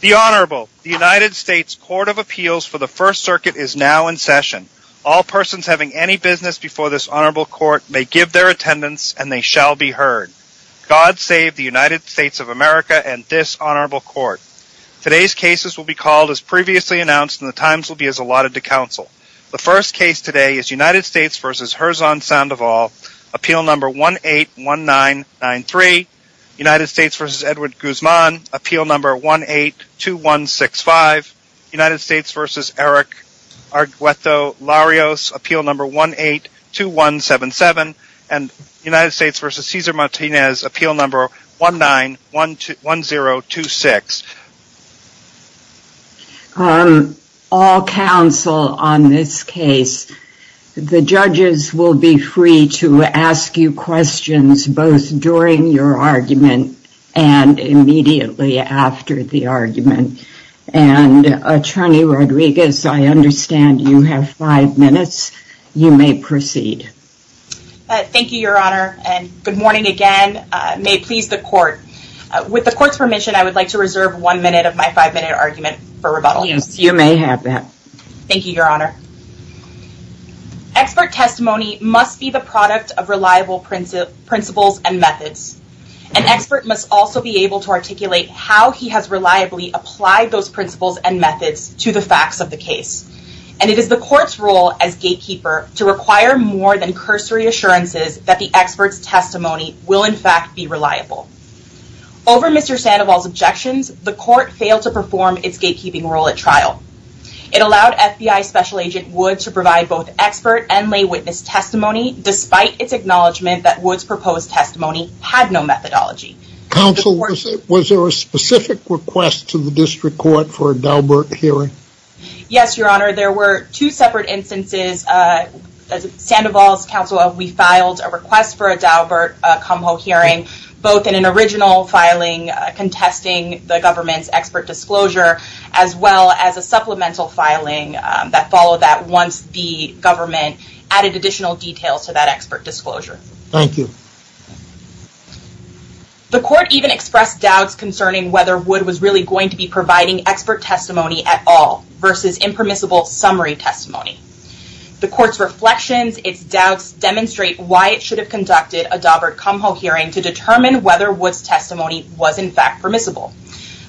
The Honorable, the United States Court of Appeals for the First Circuit is now in session. All persons having any business before this Honorable Court may give their attendance and they shall be heard. God save the United States of America and this Honorable Court. Today's cases will be called as previously announced and the times will be as allotted to counsel. The first case today is United States v. Herzon Sandoval, Appeal No. 181993. United States v. Edward Guzman, Appeal No. 182165. United States v. Eric Argueto-Larios, Appeal No. 182177. United States v. Cesar Martinez, Appeal No. 191026. All counsel on this case, the judges will be free to ask you questions both during your argument and immediately after the argument. And Attorney Rodriguez, I understand you have five minutes. You may proceed. Thank you, Your Honor, and good morning again. May it please the Court, with the Court's permission I would like to reserve one minute of my five minute argument for rebuttal. Yes, you may have that. Thank you, Your Honor. Expert testimony must be the product of reliable principles and methods. An expert must also be able to articulate how he has reliably applied those principles and methods to the facts of the case. And it is the Court's role as gatekeeper to require more than cursory assurances that the expert's testimony will, in fact, be reliable. Over Mr. Sandoval's objections, the Court failed to perform its gatekeeping role at Woods to provide both expert and lay witness testimony, despite its acknowledgment that Woods' proposed testimony had no methodology. Counsel, was there a specific request to the District Court for a Daubert hearing? Yes, Your Honor, there were two separate instances. As Sandoval's counsel, we filed a request for a Daubert-Cumho hearing, both in an original filing contesting the government's expert disclosure, as well as a supplemental filing that followed that once the government added additional details to that expert disclosure. Thank you. The Court even expressed doubts concerning whether Woods was really going to be providing expert testimony at all, versus impermissible summary testimony. The Court's reflections, its doubts, demonstrate why it should have conducted a Daubert-Cumho hearing to determine whether Woods' testimony was in fact permissible.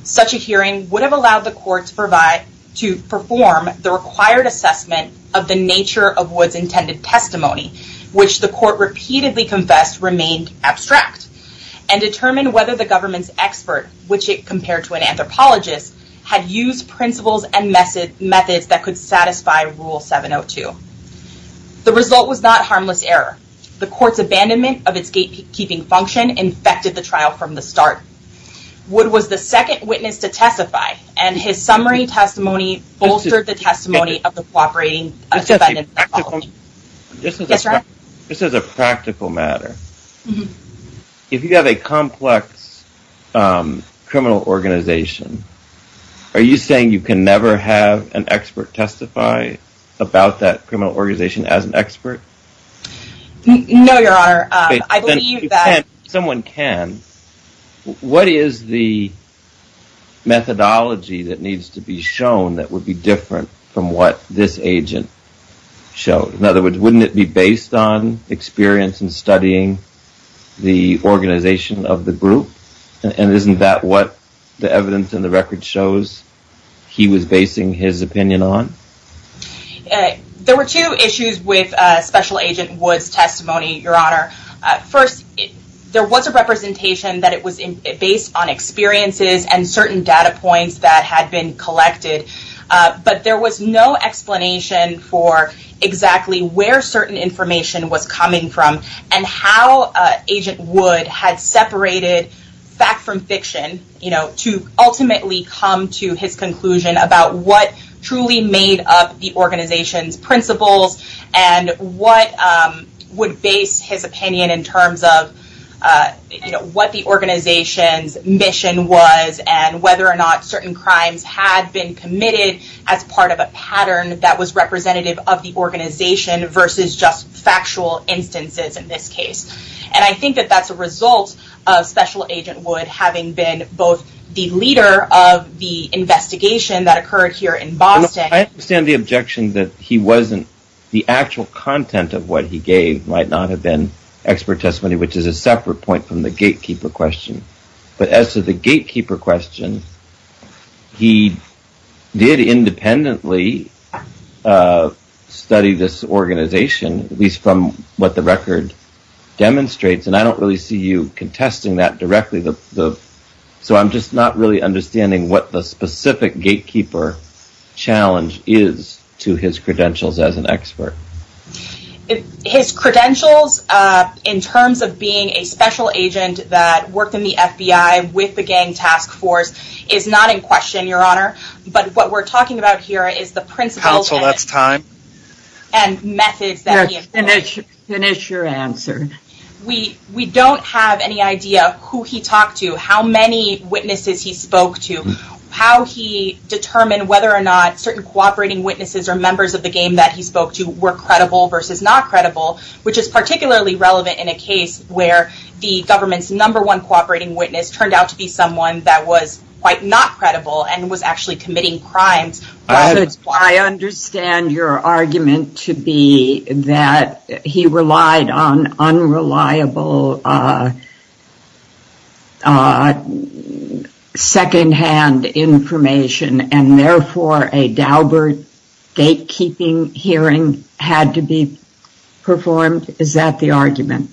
Such a hearing would have allowed the Court to perform the required assessment of the nature of Woods' intended testimony, which the Court repeatedly confessed remained abstract, and determine whether the government's expert, which it compared to an anthropologist, had used principles and methods that could satisfy Rule 702. The result was not harmless error. The Court's abandonment of its gatekeeping function infected the trial from the start. Woods was the second witness to testify, and his summary testimony bolstered the testimony of the cooperating defendant with the apology. Just as a practical matter, if you have a complex criminal organization, are you saying you can never have an expert testify about that criminal organization as an expert? No, Your Honor. If someone can, what is the methodology that needs to be shown that would be different from what this agent showed? In other words, wouldn't it be based on experience in studying the organization of the group, and isn't that what the evidence in the record shows he was basing his opinion on? There were two issues with Special Agent Woods' testimony, Your Honor. First, there was a representation that it was based on experiences and certain data points that had been collected, but there was no explanation for exactly where certain information was coming from, and how Agent Woods had separated fact from fiction to ultimately come to his conclusion about what truly made up the organization's principles, and what would base his opinion in terms of what the organization's mission was, and whether or not certain crimes had been committed as part of a pattern that was representative of the organization versus just factual instances in this case. And I think that that's a result of Special Agent Woods having been both the leader of the investigation that occurred here in Boston... I understand the objection that he wasn't, the actual content of what he gave might not have been expert testimony, which is a separate point from the gatekeeper question, but as to the gatekeeper question, he did independently study this organization, at least from what the record demonstrates, and I don't really see you contesting that directly, so I'm just not really understanding what the specific gatekeeper challenge is to his credentials as an expert. His credentials, in terms of being a special agent that worked in the FBI with the gang task force, is not in question, Your Honor, but what we're talking about here is the principles... Counsel, that's time. And methods that he employed. Finish your answer. We don't have any idea who he talked to, how many witnesses he spoke to, how he determined whether or not certain cooperating witnesses or members of the gang that he spoke to were credible versus not credible, which is particularly relevant in a case where the government's number one cooperating witness turned out to be someone that was quite not credible and was actually committing crimes. I understand your argument to be that he relied on unreliable secondhand information and therefore a Daubert gatekeeping hearing had to be performed. Is that the argument?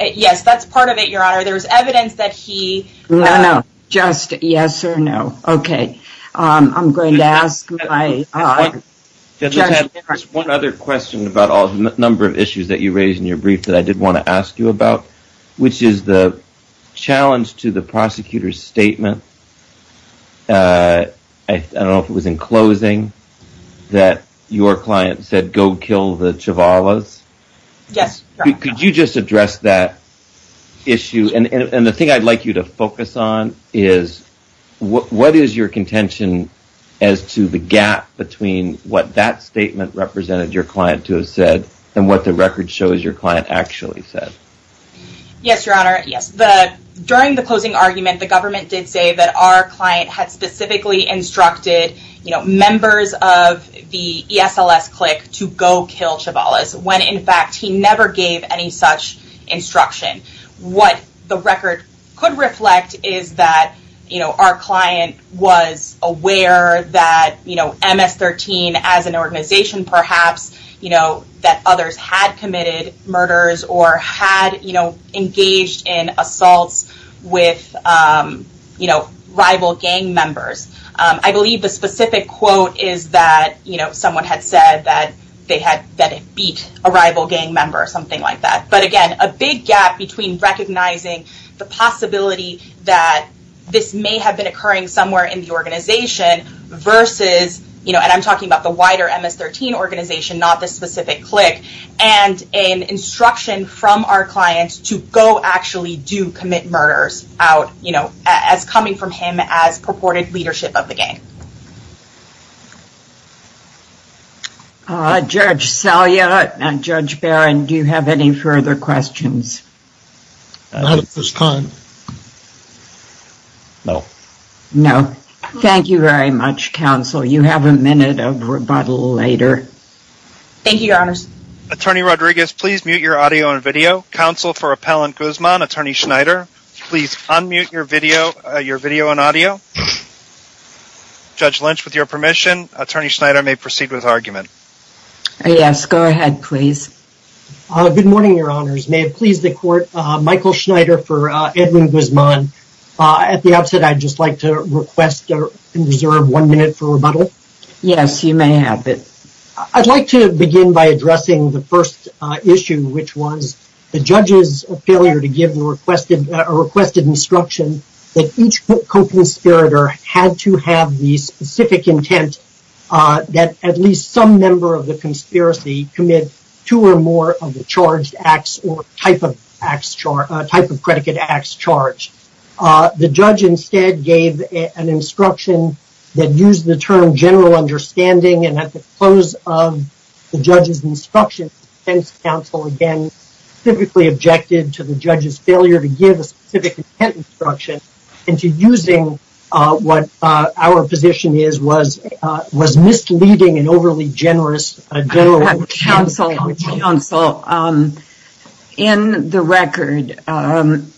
Yes, that's part of it, Your Honor. There's evidence that he... No, no. Just yes or no. Okay. I'm going to ask my... Judge, I have just one other question about all the number of issues that you raised in your brief that I did want to ask you about, which is the challenge to the prosecutor's statement. I don't know if it was in closing that your client said, go kill the Chiavalas. Yes. Could you just address that issue? The thing I'd like you to focus on is what is your contention as to the gap between what that statement represented your client to have said and what the record shows your client actually said? Yes, Your Honor. Yes. During the closing argument, the government did say that our client had specifically instructed members of the ESLS clique to go kill Chiavalas when in fact he never gave any such instruction. What the record could reflect is that our client was aware that MS-13 as an organization perhaps that others had committed murders or had engaged in assaults with rival gang members. I believe the specific quote is that someone had said that it beat a rival gang member or something like that. But again, a big gap between recognizing the possibility that this may have been occurring somewhere in the organization versus, and I'm talking about the wider MS-13 organization, not the specific clique, and an instruction from our client to go actually do commit murders out as coming from him as purported leadership of the gang. Judge Salyer and Judge Barron, do you have any further questions? I don't have at this time. No. No. Thank you very much, counsel. You have a minute of rebuttal later. Thank you, Your Honors. Attorney Rodriguez, please mute your audio and video. Counsel for Appellant Guzman, Attorney Schneider, please unmute your video and audio. Judge Lynch, with your permission, Attorney Schneider may proceed with her argument. Yes. Go ahead, please. Good morning, Your Honors. May it please the Court, Michael Schneider for Edwin Guzman. At the outset, I'd just like to request and reserve one minute for rebuttal. Yes, you may have it. I'd like to begin by addressing the first issue, which was the judge's failure to give a requested instruction that each co-conspirator had to have the specific intent that at least some member of the conspiracy commit two or more of the charged acts or type of predicate acts charged. The judge instead gave an instruction that used the term general understanding, and at the close of the judge's instruction, the defense counsel again typically objected to the judge's failure to give a specific intent instruction and to using what our position is was misleading and overly generous. Counsel, in the record,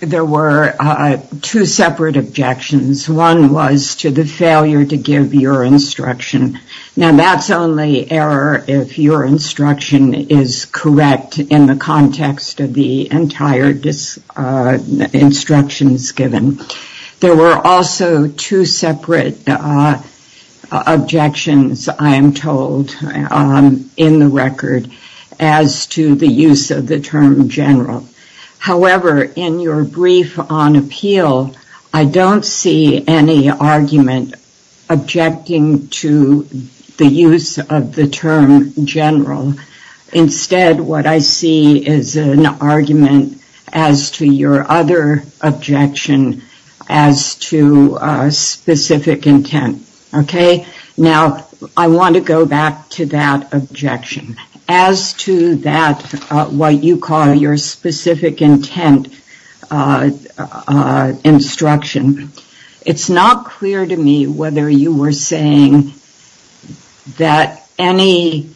there were two separate objections. One was to the failure to give your instruction. Now, that's only error if your instruction is correct in the context of the entire instructions given. There were also two separate objections, I am told, in the record as to the use of the term general. However, in your brief on appeal, I don't see any argument objecting to the use of the term general. Instead, what I see is an argument as to your other objection as to specific intent. Okay? Now, I want to go back to that objection. As to that, what you call your specific intent instruction, it's not clear to me whether you were saying that there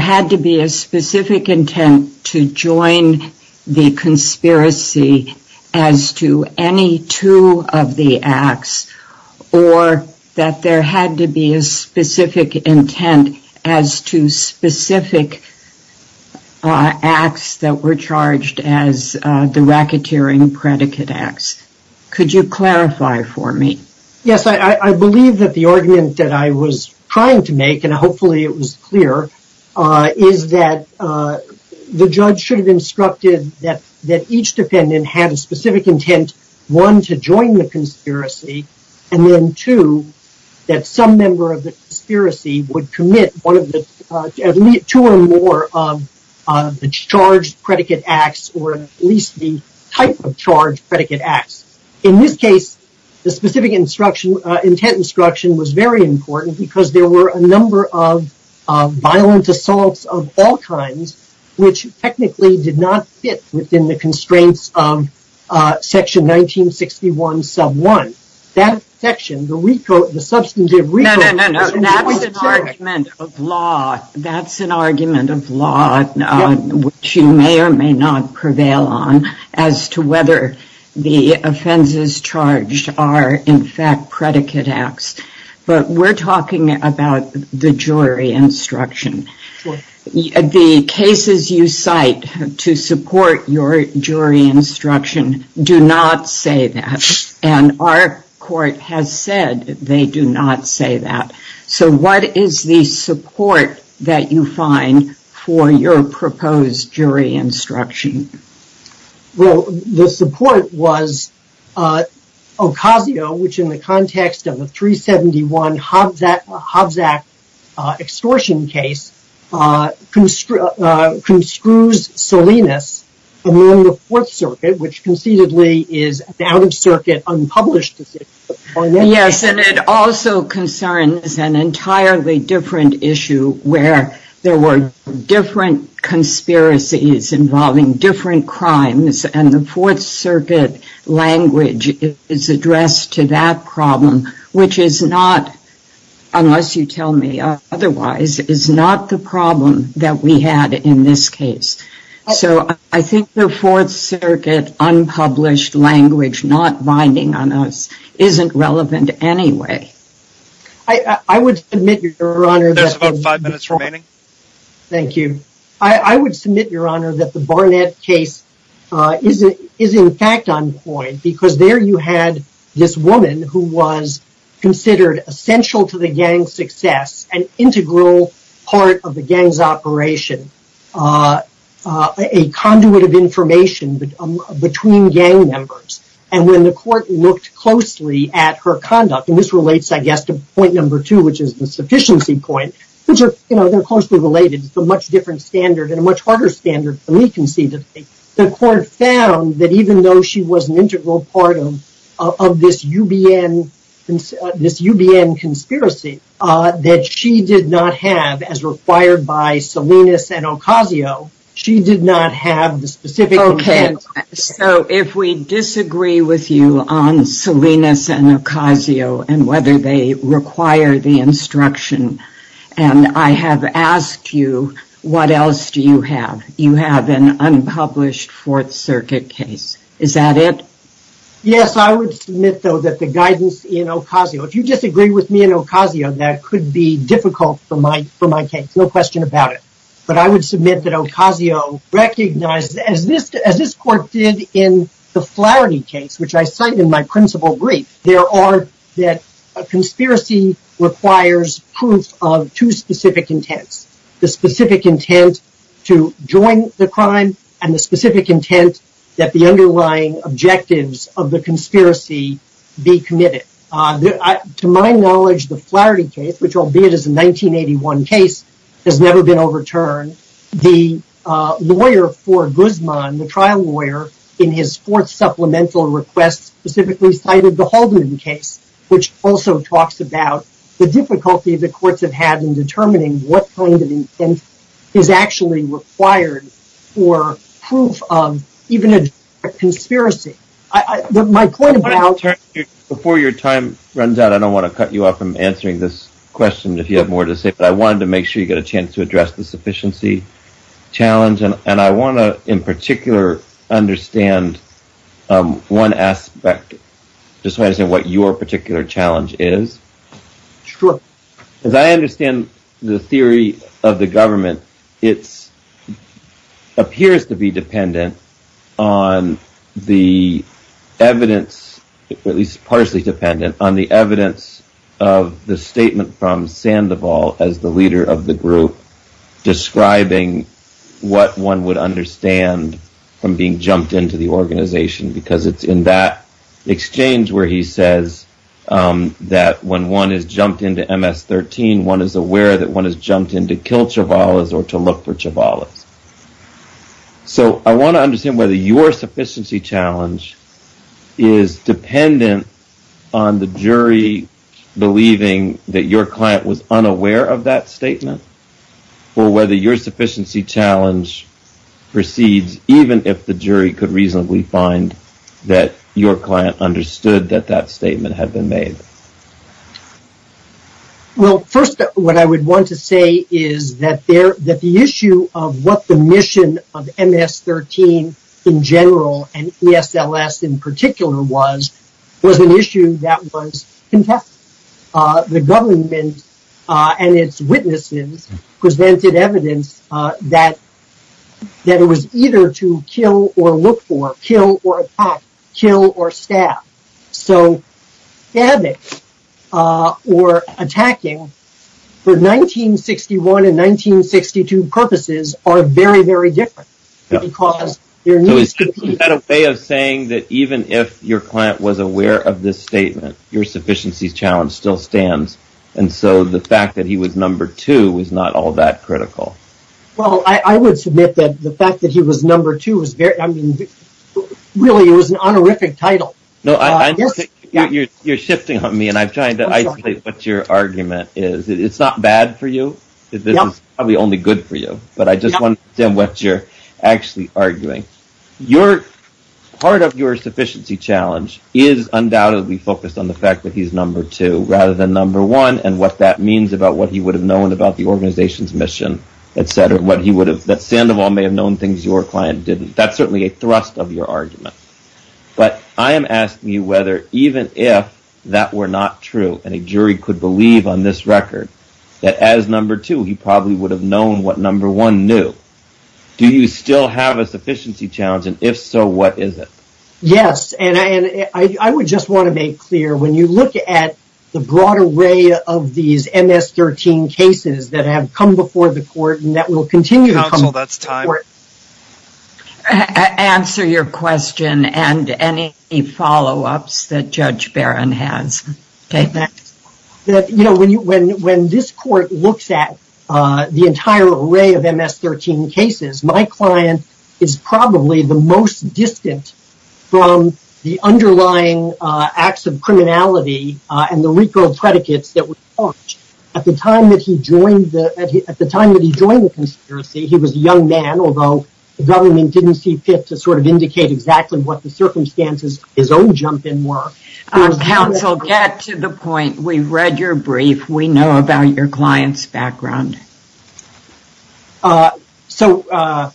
had to be a specific intent to join the conspiracy as to any two of the acts or that there had to be a specific intent as to specific acts that were charged as the racketeering predicate acts. Could you clarify for me? Yes. I believe that the argument that I was trying to make, and hopefully it was clear, is that the judge should have instructed that each defendant had a specific intent, one, to join the conspiracy, and then two, that some member of the conspiracy would commit two or more of the charged predicate acts or at least the type of charged predicate acts. In this case, the specific intent instruction was very important because there were a number of violent assaults of all kinds, which technically did not fit within the constraints of section 1961 sub 1. That section, the substantive recode... No, no, no. That's an argument of law. That's an argument of law, which you may or may not prevail on as to whether the offenses charged are, in fact, predicate acts. But we're talking about the jury instruction. The cases you cite to support your jury instruction do not say that. And our court has said they do not say that. So what is the support that you find for your proposed jury instruction? Well, the support was Ocasio, which in the context of the 371 Hobbs Act extortion case, construes Salinas, and then the Fourth Circuit, which concededly is an out-of-circuit, unpublished decision. Yes, and it also concerns an entirely different issue where there were different conspiracies involving different crimes, and the Fourth Circuit language is addressed to that problem, which is not, unless you tell me otherwise, is not the problem that we had in this case. So I think the Fourth Circuit unpublished language not binding on us isn't relevant anyway. I would submit, Your Honor... There's about five minutes remaining. Thank you. I would submit, Your Honor, that the Barnett case is in fact on point because there you had this woman who was considered essential to the gang's success, an integral part of the gang's operation, a conduit of information between gang members. And when the court looked closely at her conduct, and this relates, I guess, to point number standard, and a much harder standard for me conceivably, the court found that even though she was an integral part of this UBN conspiracy, that she did not have, as required by Salinas and Ocasio, she did not have the specific intent... Okay, so if we disagree with you on Salinas and Ocasio and whether they require the instruction, and I have asked you, what else do you have? You have an unpublished Fourth Circuit case. Is that it? Yes, I would submit, though, that the guidance in Ocasio... If you disagree with me in Ocasio, that could be difficult for my case, no question about it. But I would submit that Ocasio recognized, as this court did in the Flaherty case, which specific intents. The specific intent to join the crime and the specific intent that the underlying objectives of the conspiracy be committed. To my knowledge, the Flaherty case, which albeit is a 1981 case, has never been overturned. The lawyer for Guzman, the trial lawyer, in his fourth supplemental request specifically cited the Holden case, which also talks about the difficulty the courts have had in determining what kind of intent is actually required for proof of even a conspiracy. My point about... Before your time runs out, I don't want to cut you off from answering this question if you have more to say, but I wanted to make sure you get a chance to address the sufficiency challenge. And I want to, in particular, understand one aspect. Just want to say what your particular challenge is. Sure. As I understand the theory of the government, it appears to be dependent on the evidence, at least partially dependent, on the evidence of the statement from Sandoval as the leader of the group describing what one would understand from being jumped into the organization. Because it's in that exchange where he says that when one is jumped into MS-13, one is aware that one has jumped in to kill Chiavales or to look for Chiavales. So, I want to understand whether your sufficiency challenge is dependent on the jury believing that your client was unaware of that statement, or whether your sufficiency challenge proceeds even if the jury could reasonably find that your client understood that that statement had been made. Well, first, what I would want to say is that the issue of what the mission of MS-13 in particular was, was an issue that was contested. The government and its witnesses presented evidence that it was either to kill or look for, kill or attack, kill or stab. So, stabbing or attacking for 1961 and 1962 purposes are very, very different. So, is that a way of saying that even if your client was aware of this statement, your sufficiency challenge still stands, and so the fact that he was number two was not all that critical? Well, I would submit that the fact that he was number two was, I mean, really it was an honorific title. You're shifting on me, and I'm trying to isolate what your argument is. It's not bad for you. This is probably only good for you, but I just want to understand what you're actually arguing. Part of your sufficiency challenge is undoubtedly focused on the fact that he's number two rather than number one, and what that means about what he would have known about the organization's mission, etc., that Sandoval may have known things your client didn't. That's certainly a thrust of your argument. But I am asking you whether even if that were not true and a jury could believe on this record that as number two he probably would have known what number one knew, do you still have a sufficiency challenge, and if so, what is it? Yes, and I would just want to make clear when you look at the broad array of these MS-13 cases that have come before the court and that will continue to come before the court. Counsel, that's time. Answer your question and any follow-ups that Judge Barron has. When this court looks at the entire array of MS-13 cases, my client is probably the most distant from the underlying acts of criminality and the legal predicates that were charged. At the time that he joined the conspiracy, he was a young man, although the government didn't see fit to sort of indicate exactly what the circumstances his own jump in were. Counsel, get to the point. We've read your brief. We know about your client's background. So,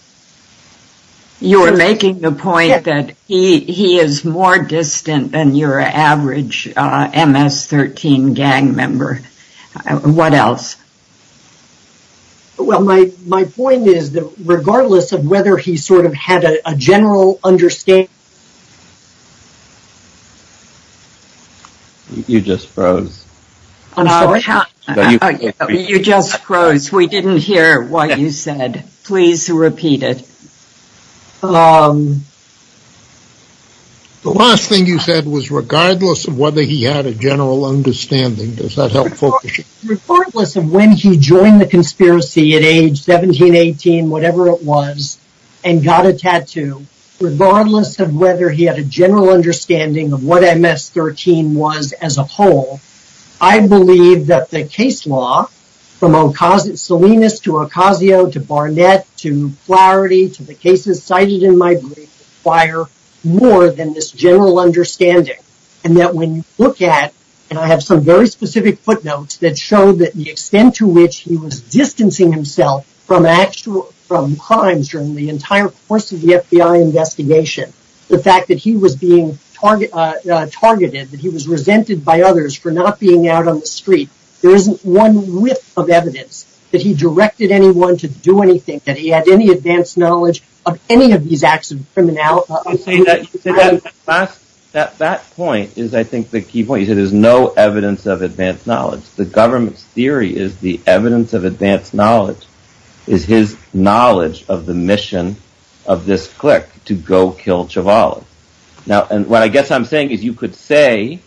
you're making the point that he is more distant than your average MS-13 gang member. What else? Well, my point is that regardless of whether he sort of had a general understanding... You just froze. I'm sorry? You just froze. We didn't hear what you said. Please repeat it. The last thing you said was regardless of whether he had a general understanding. Does that help focus you? Regardless of when he joined the conspiracy at age 17, 18, whatever it was, and got a tattoo, regardless of whether he had a general understanding of what MS-13 was as a whole, I believe that the case law from Salinas to Ocasio to Barnett to Flaherty to the cases cited in my brief require more than this general understanding. And that when you look at, and I have some very specific footnotes that show the extent to which he was distancing himself from crimes during the entire course of the FBI investigation, the fact that he was being targeted, that he was resented by others for not being out on the street, there isn't one whiff of evidence that he directed anyone to do anything, that he had any advanced knowledge of any of these acts of criminality. You see, that point is, I think, the key point. You said there's no evidence of advanced knowledge. The government's theory is the evidence of advanced knowledge is his knowledge of the Now, and what I guess I'm saying is you could say,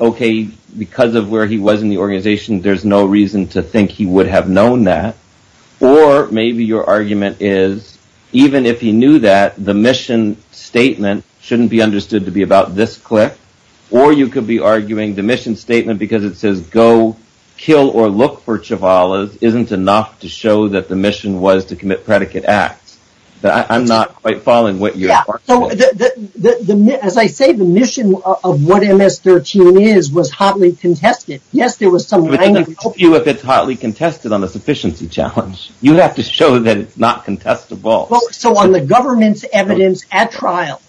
okay, because of where he was in the organization, there's no reason to think he would have known that. Or maybe your argument is, even if he knew that, the mission statement shouldn't be understood to be about this click. Or you could be arguing the mission statement because it says go kill or look for Chiavala isn't enough to show that the mission was to commit predicate acts. I'm not quite following what you're saying. As I say, the mission of what MS-13 is was hotly contested. Yes, there was some language. It doesn't help you if it's hotly contested on the sufficiency challenge. You have to show that it's not contestable. So on the government's evidence at trial,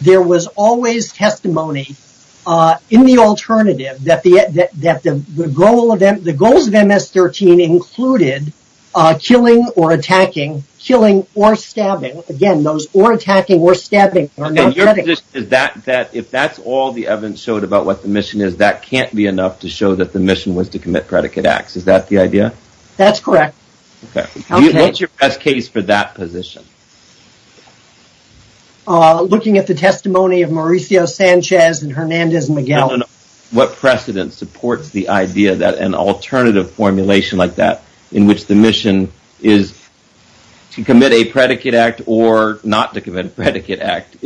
there was always testimony in the alternative that the goals of MS-13 included killing or attacking, killing or stabbing. Again, those or attacking or stabbing. If that's all the evidence showed about what the mission is, that can't be enough to show that the mission was to commit predicate acts. Is that the idea? That's correct. What's your best case for that position? Looking at the testimony of Mauricio Sanchez and Hernandez-Miguel. What precedent supports the idea that an alternative formulation like that in which the mission is to commit a predicate act or not to commit a predicate act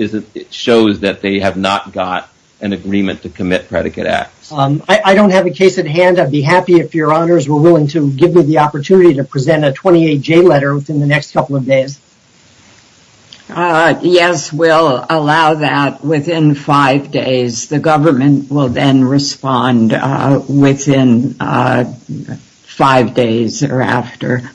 shows that they have not got an agreement to commit predicate acts? I don't have a case at hand. I'd be happy if your honors were willing to give me the opportunity to present a 28-J letter within the next couple of days. Yes, we'll allow that within five days. The government will then respond within five days or after.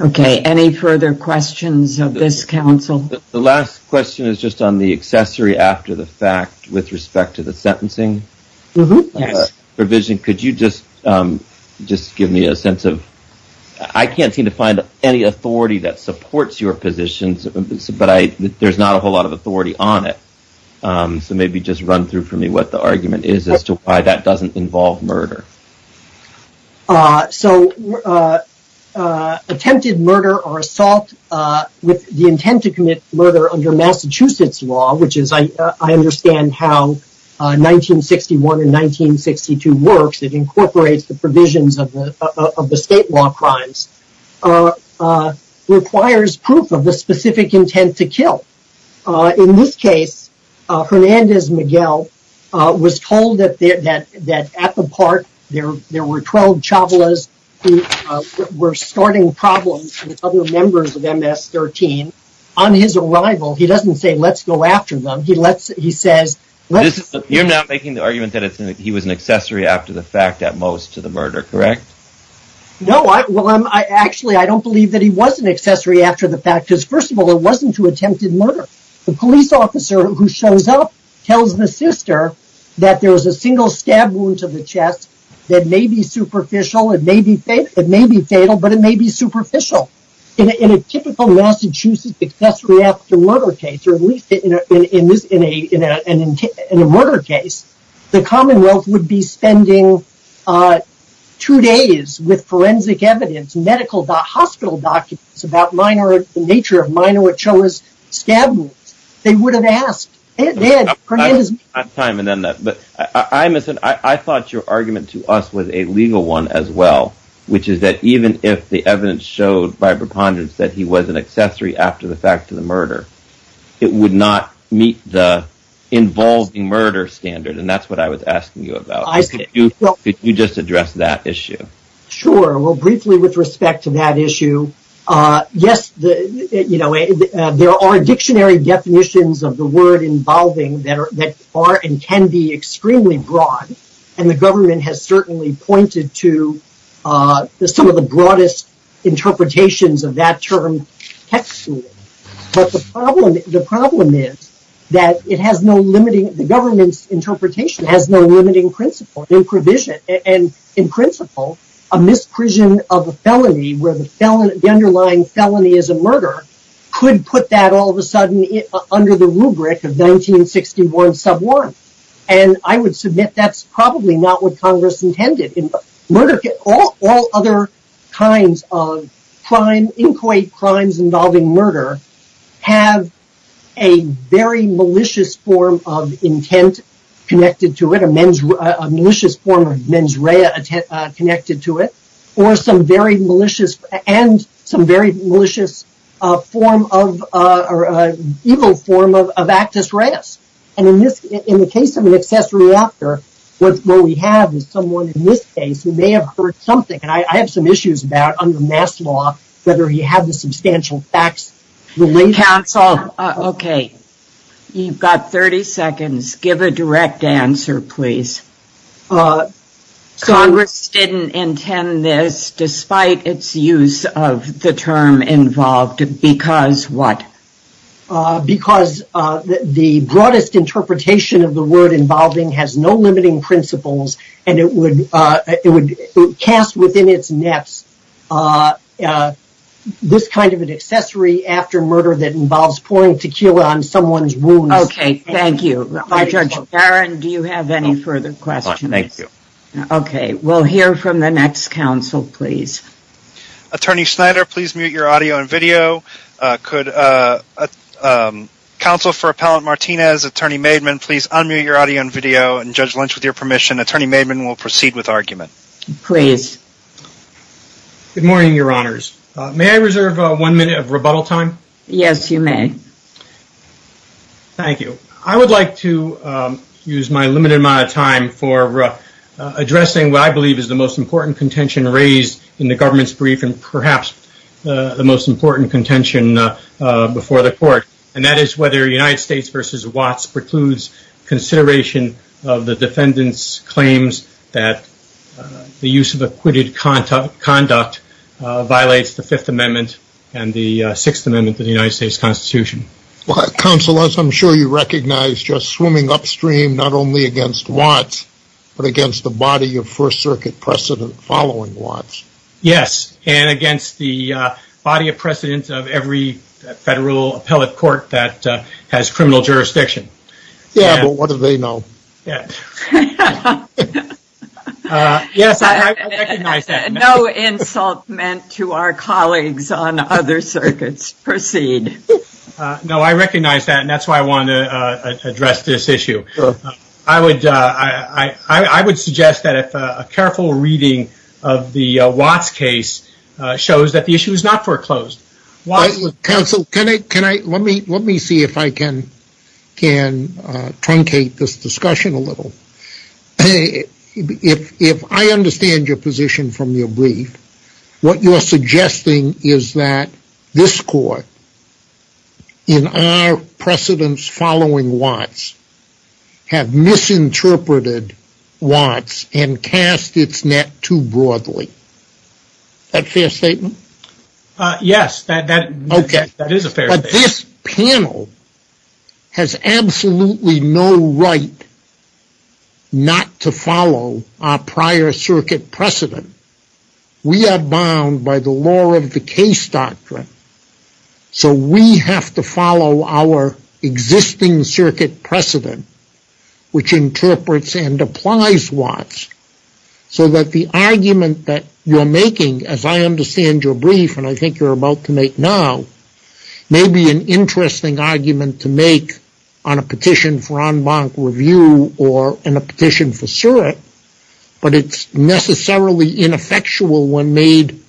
Okay, any further questions of this council? The last question is just on the accessory after the fact with respect to the sentencing provision. Could you just give me a sense of... I can't seem to find any authority that supports your positions, but there's not a whole lot of authority on it. Maybe just run through for me what the argument is as to why that doesn't involve murder. Attempted murder or assault with the intent to commit murder under Massachusetts law, which is I understand how 1961 and 1962 works, it incorporates the provisions of the state law crimes, requires proof of the specific intent to kill. In this case, Hernandez Miguel was told that at the park, there were 12 chavalas who were starting problems with other members of MS-13. On his arrival, he doesn't say, let's go after them. He says... You're not making the argument that he was an accessory after the fact at most to the murder, correct? No, well, actually, I don't believe that he was an accessory after the fact, because first of all, it wasn't to attempted murder. The police officer who shows up tells the sister that there was a single stab wound to the chest that may be superficial, it may be fatal, but it may be superficial. In a typical Massachusetts accessory after murder case, or at least in a murder case, the Commonwealth would be spending two days with forensic evidence, medical hospital documents about the nature of minor chavalas stab wounds. They would have asked. I thought your argument to us was a legal one as well, which is that even if the evidence showed by preponderance that he was an accessory after the fact to the murder, it would not meet the involving murder standard, and that's what I was asking you about. Could you just address that issue? Sure, well, briefly with respect to that issue, yes, you know, there are dictionary definitions of the word involving that are and can be extremely broad, and the government has certainly pointed to some of the broadest interpretations of that term textually. But the problem is that it has no limiting, the government's interpretation has no limiting principle in provision, and in principle, a misprision of a felony where the underlying felony is a murder, could put that all of a sudden under the rubric of 1961 sub one, and I would submit that's probably not what Congress intended. All other kinds of crime, inquiry crimes involving murder, have a very malicious form of intent connected to it, or a malicious form of mens rea connected to it, and some very malicious form of evil form of actus reus. And in the case of an accessory after, what we have is someone in this case who may have heard something, and I have some issues about, under mass law, whether he had the substantial facts. Counsel, okay. You've got 30 seconds. Give a direct answer, please. Congress didn't intend this, despite its use of the term involved, because what? Because the broadest interpretation of the word involving has no limiting principles, and it would cast within its nets this kind of an accessory after murder that involves pouring tequila on someone's wounds. Okay, thank you. Judge Barron, do you have any further questions? No, thank you. Okay, we'll hear from the next counsel, please. Attorney Snyder, please mute your audio and video. Could Counsel for Appellant Martinez, Attorney Maidman, please unmute your audio and video, and Judge Lynch, with your permission, Attorney Maidman will proceed with argument. Please. Good morning, Your Honors. May I reserve one minute of rebuttal time? Yes, you may. Thank you. I would like to use my limited amount of time for addressing what I believe is the most important contention raised in the government's brief and perhaps the most important contention before the court, and that is whether United States v. Watts precludes consideration of the defendant's claims that the use of acquitted conduct violates the Fifth Amendment and the Sixth Amendment to the United States Constitution. Counsel, as I'm sure you recognize, you're swimming upstream not only against Watts, but against the body of First Circuit precedent following Watts. Yes, and against the body of precedent of every federal appellate court that has criminal jurisdiction. Yeah, but what do they know? Yes, I recognize that. No insult meant to our colleagues on other circuits. Proceed. No, I recognize that, and that's why I wanted to address this issue. I would suggest that a careful reading of the Watts case shows that the issue is not foreclosed. Counsel, let me see if I can truncate this discussion a little. If I understand your position from your brief, what you're suggesting is that this court, in our precedence following Watts, have misinterpreted Watts and cast its net too broadly. Is that a fair statement? But this panel has absolutely no right not to follow our prior circuit precedent. We are bound by the law of the case doctrine. So we have to follow our existing circuit precedent, which interprets and applies Watts, so that the argument that you're making, as I understand your brief, and I think you're about to make now, may be an interesting argument to make on a petition for en banc review or in a petition for SIRIC, but it's necessarily ineffectual when made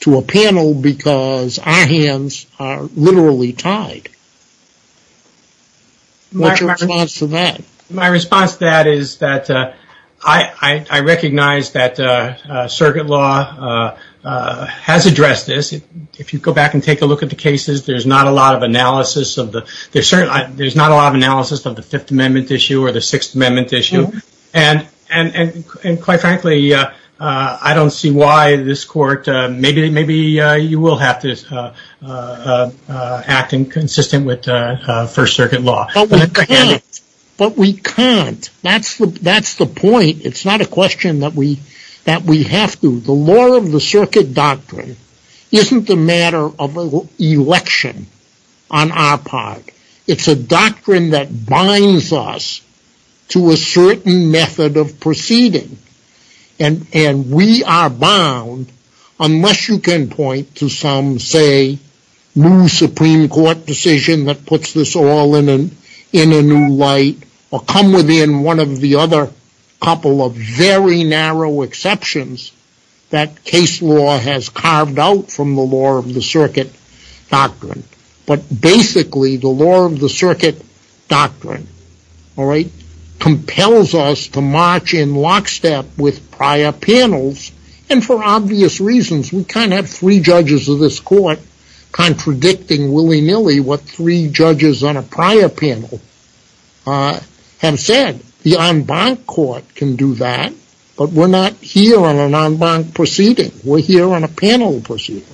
to a panel because our hands are literally tied. What's your response to that? My response to that is that I recognize that circuit law has addressed this. If you go back and take a look at the cases, there's not a lot of analysis of the Fifth Amendment issue or the Sixth Amendment issue, and quite frankly, I don't see why this court, maybe you will have to act in consistent with First Circuit law. But we can't. That's the point. It's not a question that we have to. The law of the circuit doctrine isn't the matter of an election on our part. It's a doctrine that binds us to a certain method of proceeding, and we are bound, unless you can point to some, say, new Supreme Court decision that puts this all in a new light or come within one of the other couple of very narrow exceptions that case law has carved out from the law of the circuit doctrine. But basically, the law of the circuit doctrine compels us to march in lockstep with prior panels, and for obvious reasons. We kind of have three judges of this court contradicting willy-nilly what three judges on a prior panel have said. The en banc court can do that, but we're not here on an en banc proceeding. We're here on a panel proceeding.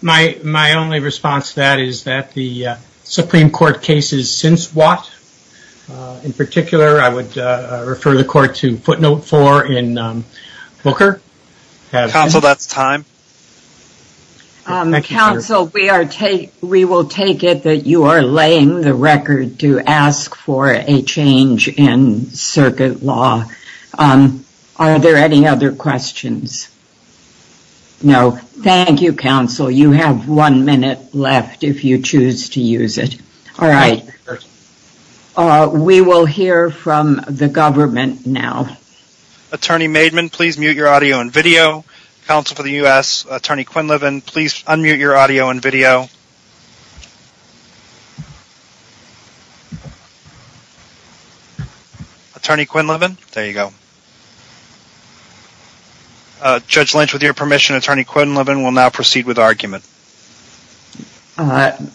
My only response to that is that the Supreme Court cases since what? In particular, I would refer the court to footnote four in Booker. Counsel, that's time. Counsel, we will take it that you are laying the record to ask for a change in circuit law. Are there any other questions? No. Thank you, Counsel. You have one minute left if you choose to use it. All right. We will hear from the government now. Attorney Maidman, please mute your audio and video. Counsel for the U.S., Attorney Quinlivan, please unmute your audio and video. Attorney Quinlivan, there you go. Judge Lynch, with your permission, Attorney Quinlivan will now proceed with argument.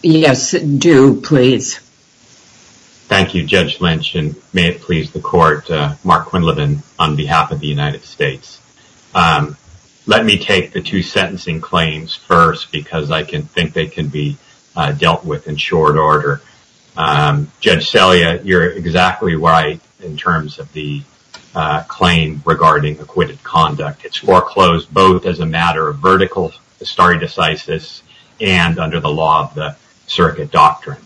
Yes, do, please. Thank you, Judge Lynch, and may it please the court, Mark Quinlivan, on behalf of the United States. Let me take the two sentencing claims first because I think they can be dealt with in short order. Judge Selya, you're exactly right in terms of the claim regarding acquitted conduct. It's foreclosed both as a matter of vertical stare decisis and under the law of the circuit doctrine.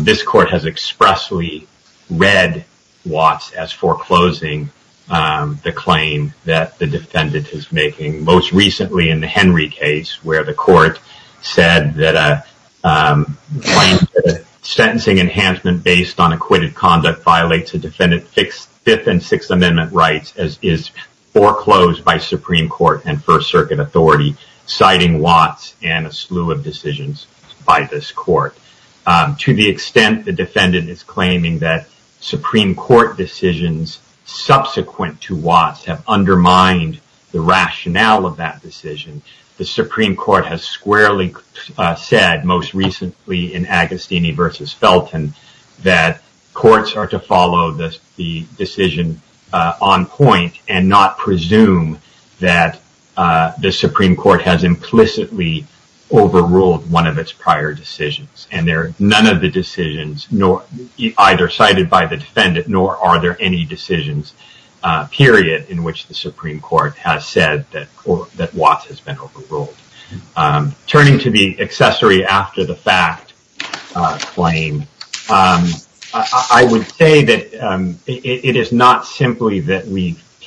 This court has expressly read Watts as foreclosing the claim that the defendant is making. Most recently in the Henry case where the court said that a sentencing enhancement based on acquitted conduct violates a defendant's Fifth and Sixth Amendment rights as is foreclosed by Supreme Court and First Circuit authority, citing Watts and a slew of decisions by this court. To the extent the defendant is claiming that Supreme Court decisions subsequent to Watts have undermined the rationale of that decision, the Supreme Court has squarely said, most recently in Agostini v. Felton, that courts are to follow the decision on point and not presume that the Supreme Court has implicitly overruled one of its prior decisions. None of the decisions, either cited by the defendant nor are there any decisions, period, in which the Supreme Court has said that Watts has been overruled. Turning to the accessory after the fact claim, I would say that it is not simply that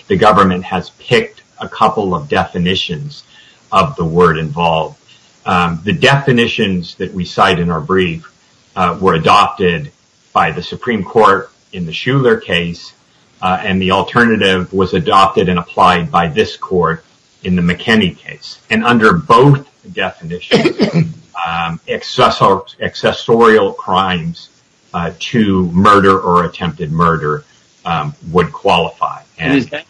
the government has picked a couple of definitions of the word involved. The definitions that we cite in our brief were adopted by the Supreme Court in the Shuler case and the alternative was adopted and applied by this court in the McKinney case. Under both definitions, accessorial crimes to murder or attempted murder would qualify. Is that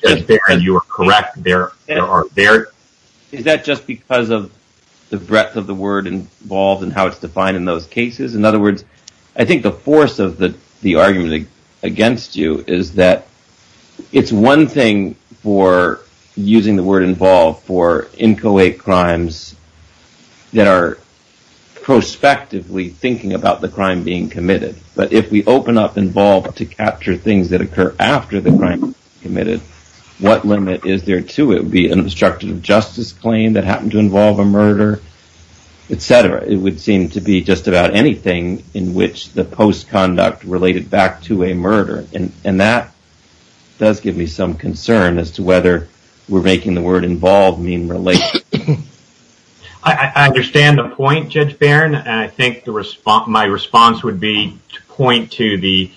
just because of the breadth of the word involved and how it's defined in those cases? In other words, I think the force of the argument against you is that it's one thing for using the word involved for inchoate crimes that are prospectively thinking about the crime being committed. But if we open up involved to capture things that occur after the crime being committed, what limit is there to it? It would be an obstructive justice claim that happened to involve a murder, etc. It would seem to be just about anything in which the post-conduct related back to a murder. And that does give me some concern as to whether we're making the word involved mean related. I understand the point, Judge Barron. And I think my response would be to point to the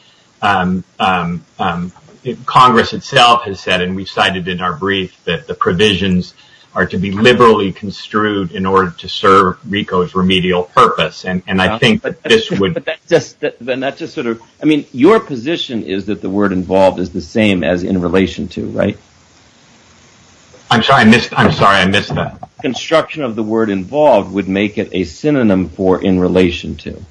Congress itself has said, and we cited in our brief, that the provisions are to be liberally construed in order to serve RICO's remedial purpose. And I think this would just sort of I mean, your position is that the word involved is the same as in relation to right. I'm sorry, I missed. I'm sorry, I missed that. Construction of the word involved would make it a synonym for in relation to.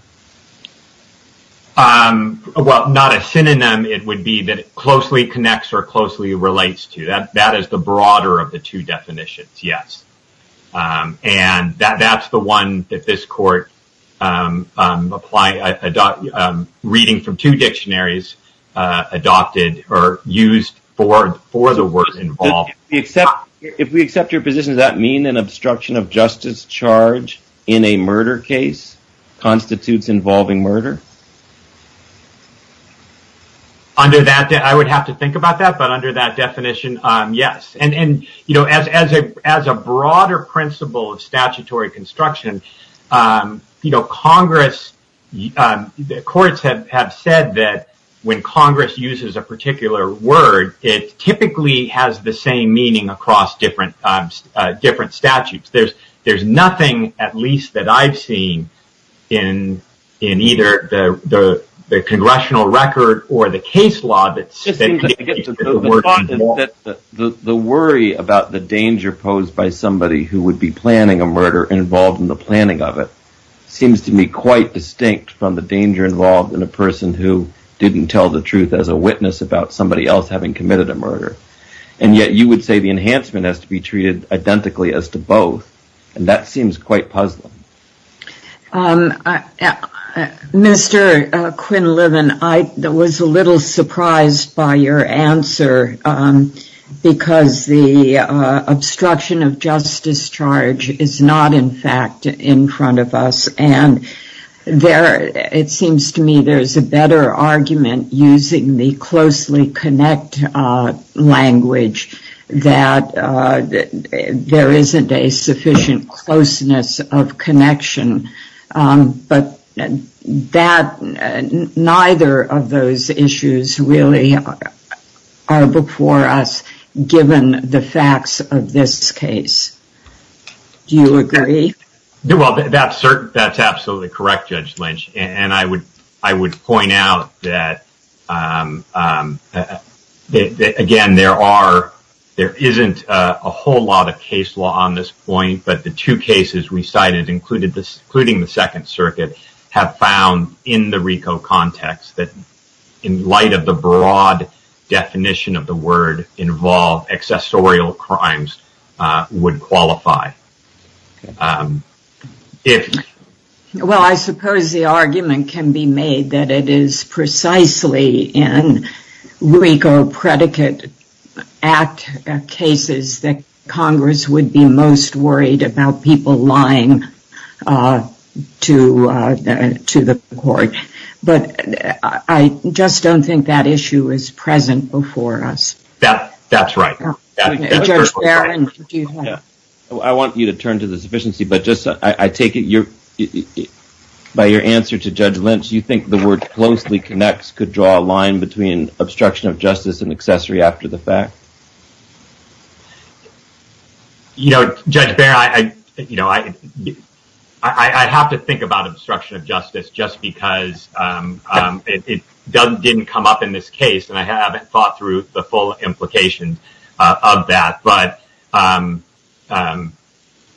Well, not a synonym. It would be that closely connects or closely relates to that. That is the broader of the two definitions. Yes. And that that's the one that this court apply. I'm reading from two dictionaries adopted or used for for the word involved. Except if we accept your position, does that mean an obstruction of justice charge in a murder case constitutes involving murder? Under that, I would have to think about that. But under that definition. Yes. And, you know, as as a as a broader principle of statutory construction, you know, Congress courts have have said that when Congress uses a particular word, it typically has the same meaning across different different statutes. There's there's nothing at least that I've seen in in either the congressional record or the case law. It's just that the worry about the danger posed by somebody who would be planning a murder involved in the planning of it seems to me quite distinct from the danger involved in a person who didn't tell the truth as a witness about somebody else having committed a murder. And yet you would say the enhancement has to be treated identically as to both. And that seems quite puzzling. Mr. Quinlivan, I was a little surprised by your answer because the obstruction of justice charge is not, in fact, in front of us. And there it seems to me there is a better argument using the closely connect language that there isn't a sufficient closeness of connection. But that neither of those issues really are before us, given the facts of this case. Do you agree? Well, that's that's absolutely correct, Judge Lynch. And I would I would point out that, again, there are there isn't a whole lot of case law on this point. But the two cases recited included this, including the Second Circuit, have found in the RICO context that in light of the broad definition of the word involved, accessorial crimes would qualify. Well, I suppose the argument can be made that it is precisely in RICO predicate act cases that Congress would be most worried about people lying to the court. But I just don't think that issue is present before us. That's right. And I want you to turn to the sufficiency. But just I take it you're by your answer to Judge Lynch. You think the word closely connects could draw a line between obstruction of justice and accessory after the fact? You know, Judge Bear, I, you know, I have to think about obstruction of justice just because it doesn't didn't come up in this case. And I haven't thought through the full implications of that. But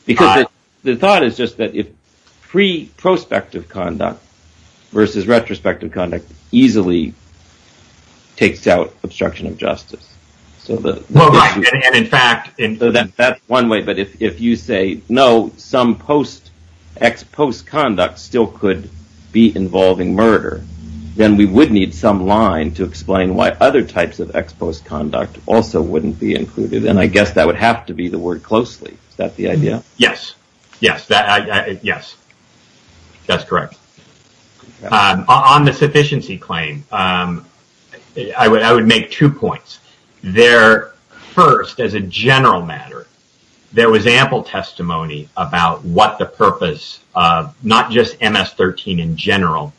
because the thought is just that if free prospective conduct versus retrospective conduct easily takes out obstruction of justice. In fact, that's one way. But if you say no, some post ex post conduct still could be involving murder, then we would need some line to explain why other types of ex post conduct also wouldn't be included. And I guess that would have to be the word closely. Is that the idea? Yes. Yes. Yes. That's correct. On the sufficiency claim, I would I would make two points there. First, as a general matter, there was ample testimony about what the purpose of not just MS-13 in general,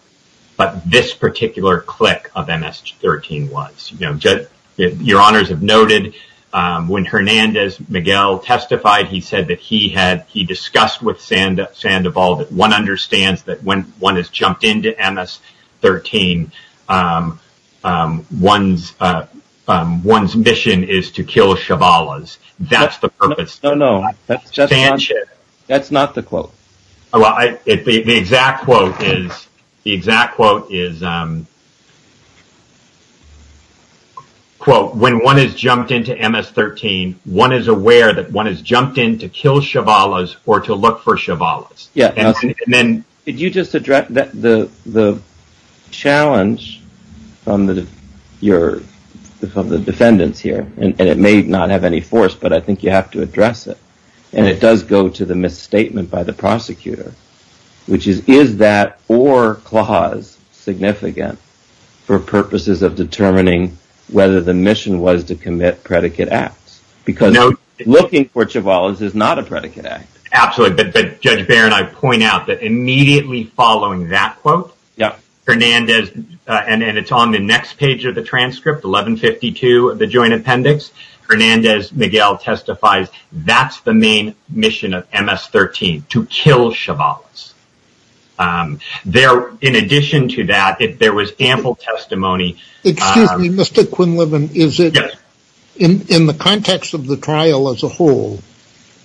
but this particular click of MS-13 was. Your honors have noted when Hernandez Miguel testified, he said that he had he discussed with Sandoval that one understands that when one has jumped into MS-13, one's one's mission is to kill Shabala's. That's the purpose. No, no, that's not the quote. The exact quote is the exact quote is, quote, when one has jumped into MS-13, one is aware that one has jumped in to kill Shabala's or to look for Shabala's. Yeah. And it does go to the misstatement by the prosecutor, which is, is that or clause significant for purposes of determining whether the mission was to commit predicate acts? Because looking for Shabala's is not a predicate act. Absolutely. But Judge Baron, I point out that immediately following that quote. Yeah. Hernandez and it's on the next page of the transcript. Eleven fifty two of the joint appendix. Hernandez Miguel testifies. That's the main mission of MS-13 to kill Shabala's there. In addition to that, there was ample testimony. Excuse me, Mr. Quinlivan, is it in the context of the trial as a whole?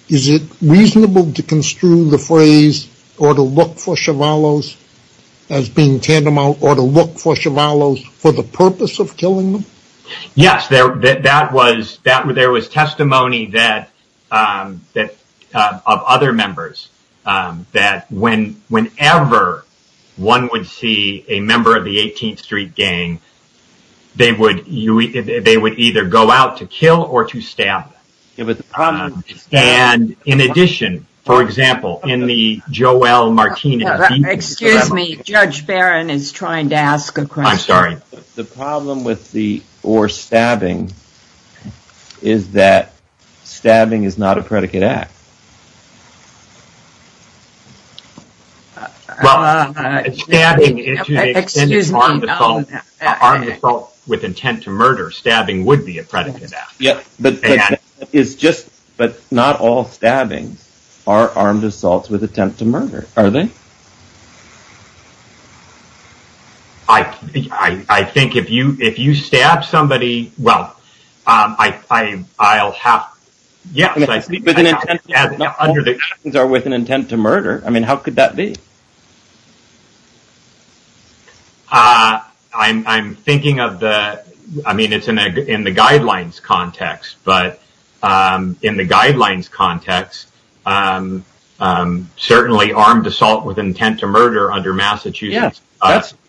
Is it reasonable to construe the phrase or to look for Shabala's as being tantamount or to look for Shabala's for the purpose of killing them? Yes, there was testimony of other members that whenever one would see a member of the 18th Street Gang, they would either go out to kill or to stab. And in addition, for example, in the Joel Martinez. Excuse me, Judge Baron is trying to ask a question. I'm sorry. The problem with the or stabbing is that stabbing is not a predicate act. Well, stabbing is an armed assault with intent to murder. Stabbing would be a predicate act. Yeah, but it's just but not all stabbings are armed assaults with attempt to murder, are they? I think if you if you stab somebody. Well, I I'll have. Yes, I see. Under the conditions are with an intent to murder. I mean, how could that be? I'm thinking of the I mean, it's in the guidelines context, but in the guidelines context, certainly armed assault with intent to murder. Under Massachusetts,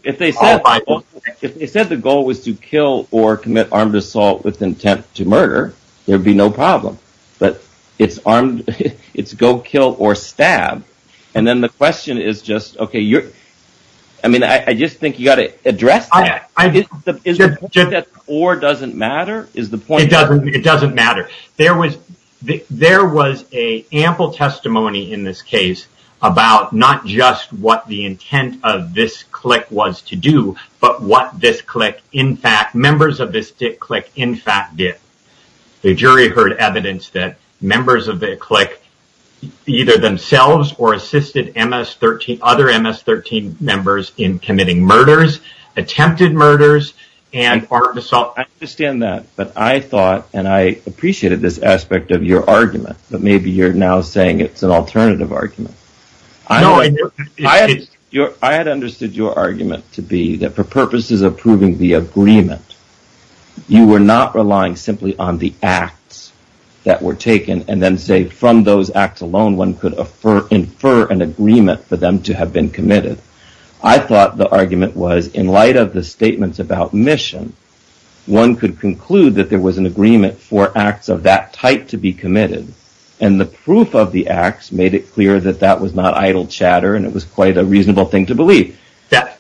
if they said the goal was to kill or commit armed assault with intent to murder, there'd be no problem. But it's armed. It's go kill or stab. And then the question is just, OK, you're I mean, I just think you got to address that or doesn't matter is the point. It doesn't it doesn't matter. There was a ample testimony in this case about not just what the intent of this click was to do, but what this click, in fact, members of this click, in fact, did. The jury heard evidence that members of the click either themselves or assisted MS-13, other MS-13 members in committing murders, attempted murders and armed assault. I understand that. But I thought and I appreciated this aspect of your argument. But maybe you're now saying it's an alternative argument. I had understood your argument to be that for purposes of proving the agreement, you were not relying simply on the acts that were taken and then say from those acts alone, one could infer an agreement for them to have been committed. I thought the argument was in light of the statements about mission, one could conclude that there was an agreement for acts of that type to be committed. And the proof of the acts made it clear that that was not idle chatter. And it was quite a reasonable thing to believe that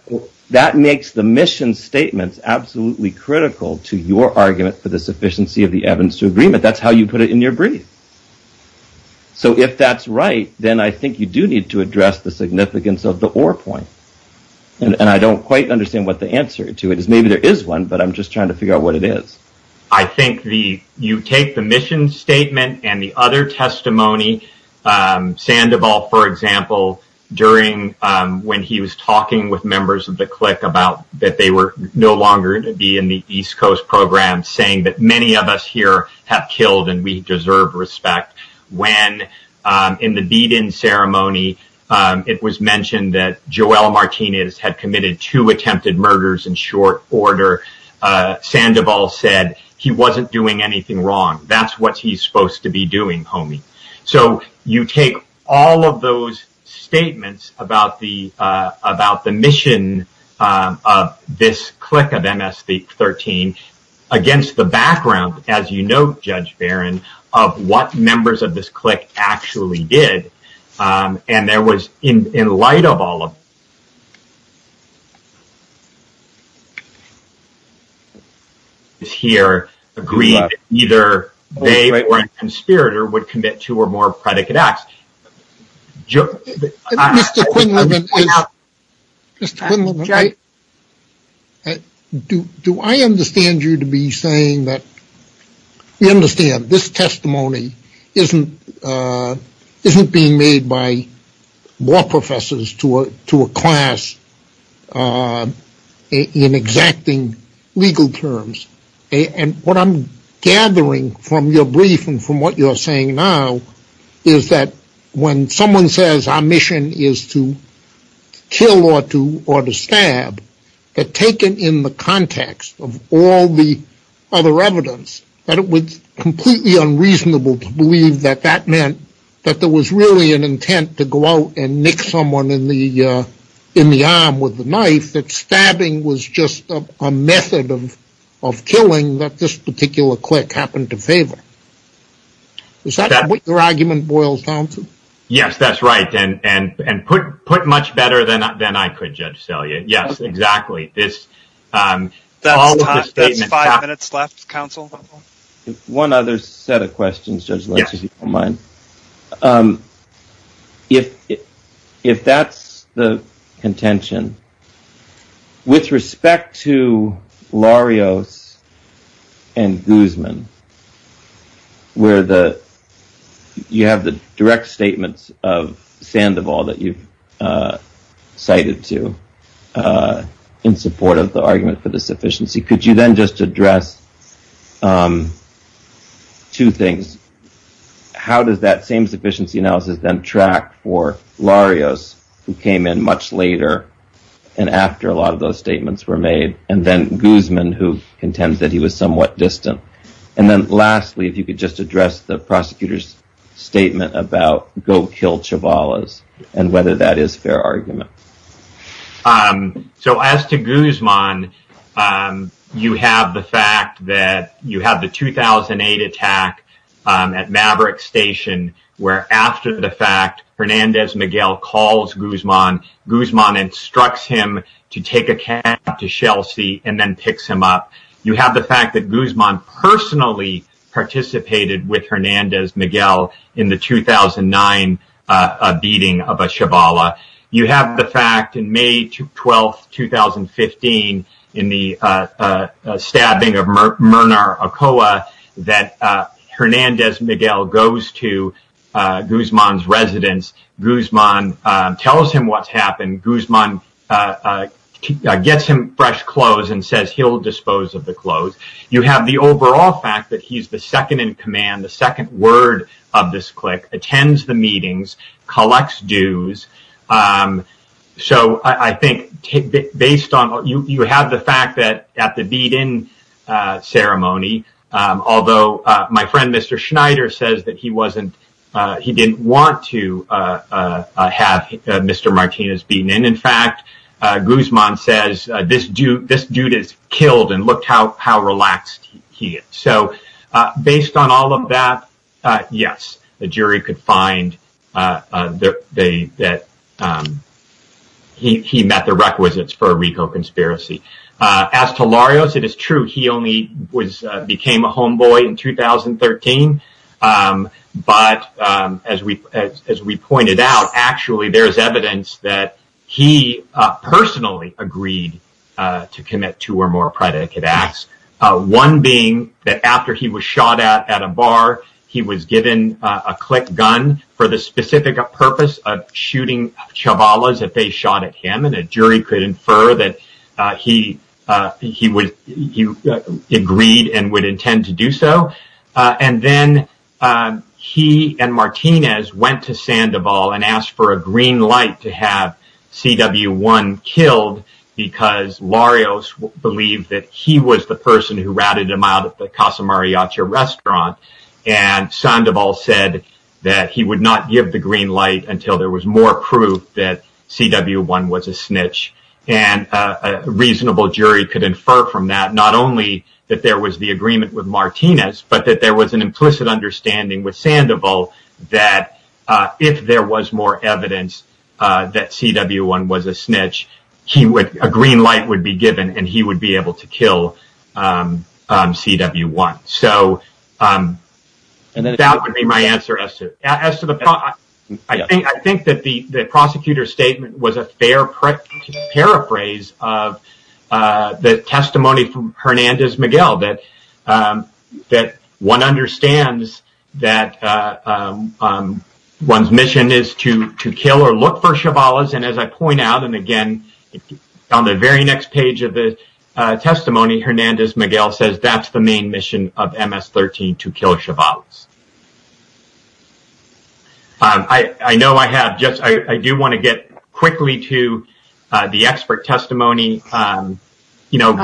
that makes the mission statements absolutely critical to your argument for the sufficiency of the evidence to agreement. That's how you put it in your brief. So if that's right, then I think you do need to address the significance of the or point. And I don't quite understand what the answer to it is. Maybe there is one, but I'm just trying to figure out what it is. I think you take the mission statement and the other testimony. Sandoval, for example, during when he was talking with members of the clique about that they were no longer to be in the East Coast program, saying that many of us here have killed and we deserve respect. When in the beat in ceremony, it was mentioned that Joelle Martinez had committed two attempted murders in short order. Sandoval said he wasn't doing anything wrong. That's what he's supposed to be doing, homie. So you take all of those statements about the mission of this clique of MS-13 against the background, as you note, Judge Barron, of what members of this clique actually did. And there was, in light of all of this here, agreed that either they or a conspirator would commit two or more predicate acts. Mr. Quinlivan, do I understand you to be saying that we understand this testimony isn't being made by law professors to a class in exacting legal terms. What I'm gathering from your brief and from what you're saying now is that when someone says our mission is to kill or to stab, that taken in the context of all the other evidence, that it was completely unreasonable to believe that that meant that there was really an intent to go out and nick someone in the arm with a knife. To believe that stabbing was just a method of killing that this particular clique happened to favor. Is that what your argument boils down to? Yes, that's right. And put much better than I could, Judge Selye. Yes, exactly. That's five minutes left, counsel. One other set of questions, Judge Lynch, if you don't mind. If that's the contention, with respect to Larios and Guzman, where you have the direct statements of Sandoval that you've cited to in support of the argument for the sufficiency, could you then just address two things? How does that same sufficiency analysis then track for Larios, who came in much later and after a lot of those statements were made? And then Guzman, who contends that he was somewhat distant. And then lastly, if you could just address the prosecutor's statement about go kill Chabalas and whether that is fair argument. So as to Guzman, you have the fact that you have the 2008 attack at Maverick Station, where after the fact, Hernandez Miguel calls Guzman. Guzman instructs him to take a cab to Chelsea and then picks him up. You have the fact that Guzman personally participated with Hernandez Miguel in the 2009 beating of a Chabala. You have the fact in May 12, 2015, in the stabbing of Mernar Acoa, that Hernandez Miguel goes to Guzman's residence. Guzman tells him what's happened. Guzman gets him fresh clothes and says he'll dispose of the clothes. You have the overall fact that he's the second in command, the second word of this clique, attends the meetings, collects dues. So I think based on you have the fact that at the beat-in ceremony, although my friend Mr. Schneider says that he didn't want to have Mr. Martinez beaten. In fact, Guzman says this dude is killed and look how relaxed he is. So based on all of that, yes, the jury could find that he met the requisites for a Rico conspiracy. As to Larios, it is true he only became a homeboy in 2013. But as we pointed out, actually there's evidence that he personally agreed to commit two or more predicate acts. One being that after he was shot at at a bar, he was given a click gun for the specific purpose of shooting Chabalas if they shot at him. And a jury could infer that he agreed and would intend to do so. And then he and Martinez went to Sandoval and asked for a green light to have CW1 killed because Larios believed that he was the person who ratted him out at the Casa Mariachi restaurant. And Sandoval said that he would not give the green light until there was more proof that CW1 was a snitch. And a reasonable jury could infer from that not only that there was the agreement with Martinez, but that there was an implicit understanding with Sandoval that if there was more evidence that CW1 was a snitch, a green light would be given and he would be able to kill CW1. So that would be my answer. I think that the prosecutor's statement was a fair paraphrase of the testimony from Hernandez-Miguel, that one understands that one's mission is to kill or look for Chabalas. And as I point out, and again, on the very next page of the testimony, Hernandez-Miguel says that's the main mission of MS-13, to kill Chabalas. I know I have just, I do want to get quickly to the expert testimony. Mr.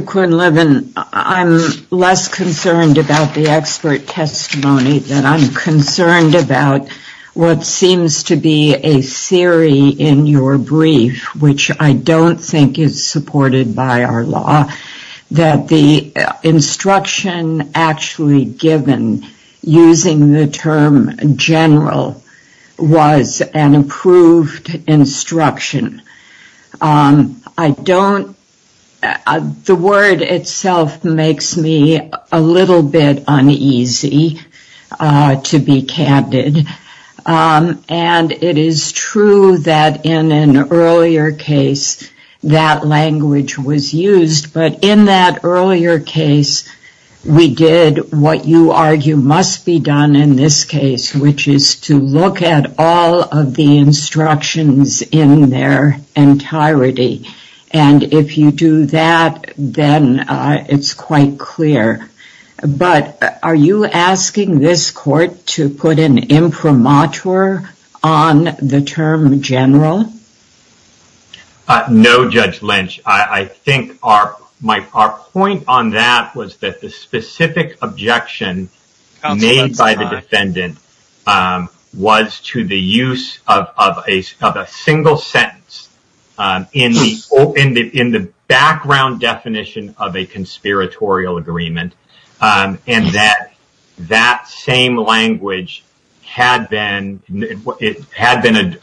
Quinlivan, I'm less concerned about the expert testimony than I'm concerned about what seems to be a theory in your brief, which I don't think is supported by our law, that the instruction actually given using the term general was an approved instruction. I don't, the word itself makes me a little bit uneasy, to be candid. And it is true that in an earlier case, that language was used, but in that earlier case, we did what you argue must be done in this case, which is to look at all of the instructions in their entirety. And if you do that, then it's quite clear. But are you asking this court to put an imprimatur on the term general? No, Judge Lynch. I think our point on that was that the specific objection made by the defendant was to the use of a single sentence in the background definition of a conspiratorial agreement. And that that same language had been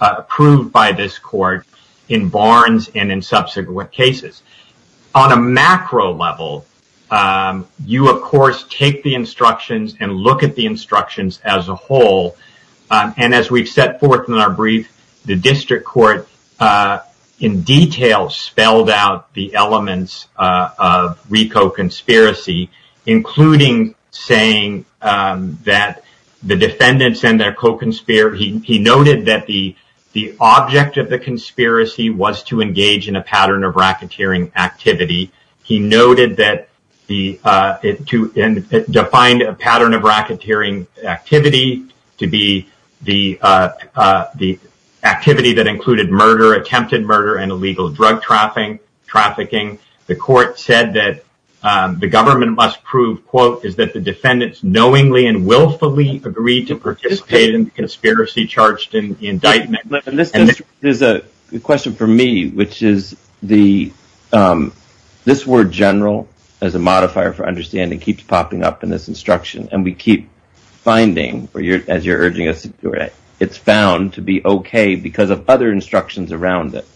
approved by this court in Barnes and in subsequent cases. On a macro level, you, of course, take the instructions and look at the instructions as a whole. And as we've set forth in our brief, the district court in detail spelled out the elements of RICO conspiracy, including saying that the defendants and their co-conspirator, he noted that the object of the conspiracy was to engage in a pattern of racketeering activity. He noted that the two defined a pattern of racketeering activity to be the the activity that included murder, attempted murder and illegal drug trafficking. Trafficking. The court said that the government must prove, quote, is that the defendants knowingly and willfully agreed to participate in the conspiracy charged in the indictment. There's a question for me, which is the this word general as a modifier for understanding keeps popping up in this instruction and we keep finding or as you're urging us, it's found to be OK because of other instructions around it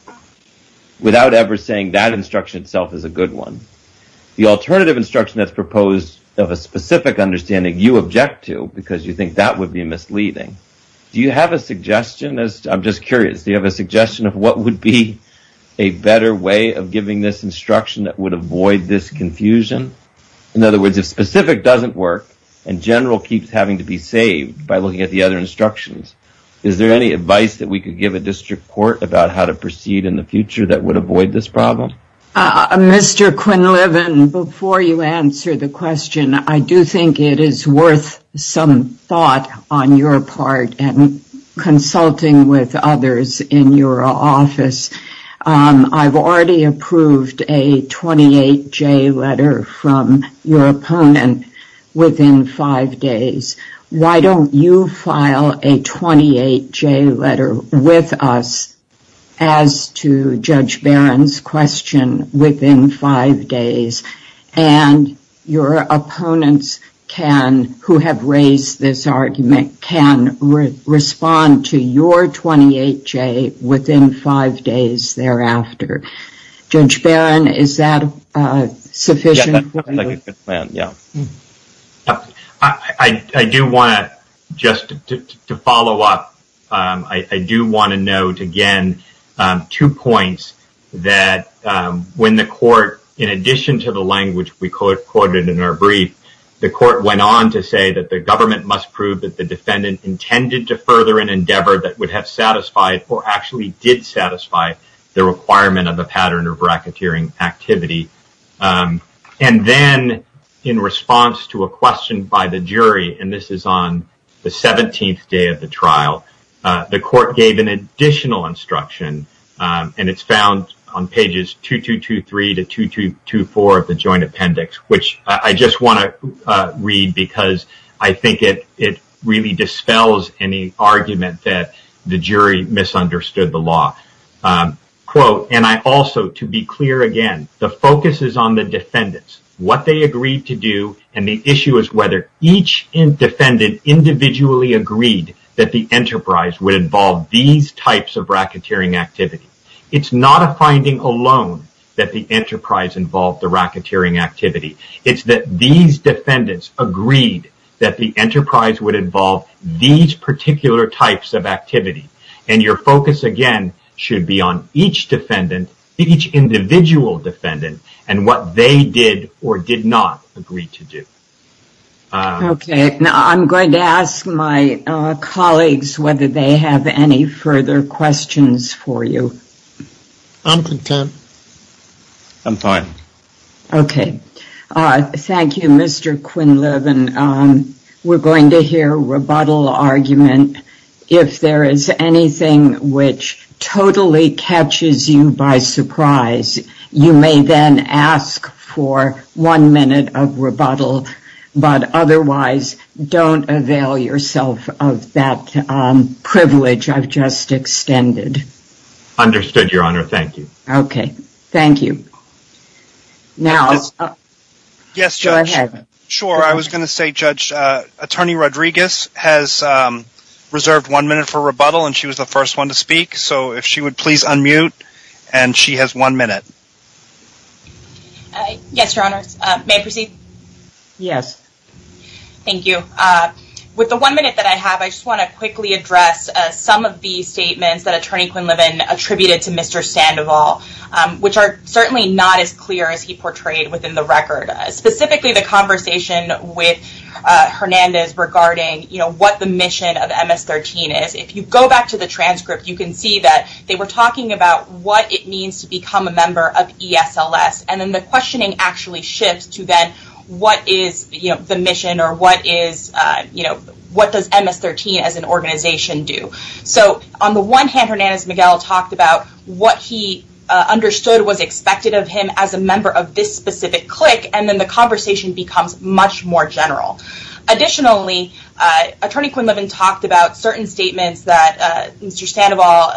without ever saying that instruction itself is a good one. The alternative instruction that's proposed of a specific understanding you object to because you think that would be misleading. Do you have a suggestion as I'm just curious, do you have a suggestion of what would be a better way of giving this instruction that would avoid this confusion? In other words, if specific doesn't work and general keeps having to be saved by looking at the other instructions, is there any advice that we could give a district court about how to proceed in the future that would avoid this problem? Mr. Quinlivan, before you answer the question, I do think it is worth some thought on your part and consulting with others in your office. I've already approved a 28 J letter from your opponent within five days. Why don't you file a 28 J letter with us as to Judge Barron's question within five days? And your opponents can, who have raised this argument, can respond to your 28 J within five days thereafter. Judge Barron, is that sufficient? I do want to, just to follow up, I do want to note again two points that when the court, in addition to the language we quoted in our brief, the court went on to say that the government must prove that the defendant intended to further an endeavor that would have satisfied or actually did satisfy the requirement of a pattern of bracketeering activity. And then in response to a question by the jury, and this is on the 17th day of the trial, the court gave an additional instruction, and it's found on pages 2223 to 2224 of the joint appendix, which I just want to read because I think it really dispels any argument that the jury misunderstood the law. Quote, and I also, to be clear again, the focus is on the defendants, what they agreed to do, and the issue is whether each defendant individually agreed that the enterprise would involve these types of bracketeering activity. It's not a finding alone that the enterprise involved the bracketeering activity. It's that these defendants agreed that the enterprise would involve these particular types of activity. And your focus again should be on each defendant, each individual defendant, and what they did or did not agree to do. Okay. Now I'm going to ask my colleagues whether they have any further questions for you. I'm content. I'm fine. Okay. Thank you, Mr. Quinlivan. We're going to hear rebuttal argument. If there is anything which totally catches you by surprise, you may then ask for one minute of rebuttal. But otherwise, don't avail yourself of that privilege I've just extended. Understood, Your Honor. Thank you. Okay. Thank you. Now, go ahead. Sure. I was going to say, Judge, Attorney Rodriguez has reserved one minute for rebuttal, and she was the first one to speak. So if she would please unmute, and she has one minute. Yes, Your Honor. May I proceed? Yes. Thank you. With the one minute that I have, I just want to quickly address some of the statements that Attorney Quinlivan attributed to Mr. Sandoval, which are certainly not as clear as he portrayed within the record, specifically the conversation with Hernandez regarding what the mission of MS-13 is. If you go back to the transcript, you can see that they were talking about what it means to become a member of ESLS, and then the questioning actually shifts to then what is the mission or what does MS-13 as an organization do. So on the one hand, Hernandez-Miguel talked about what he understood was expected of him as a member of this specific clique, and then the conversation becomes much more general. Additionally, Attorney Quinlivan talked about certain statements that Mr. Sandoval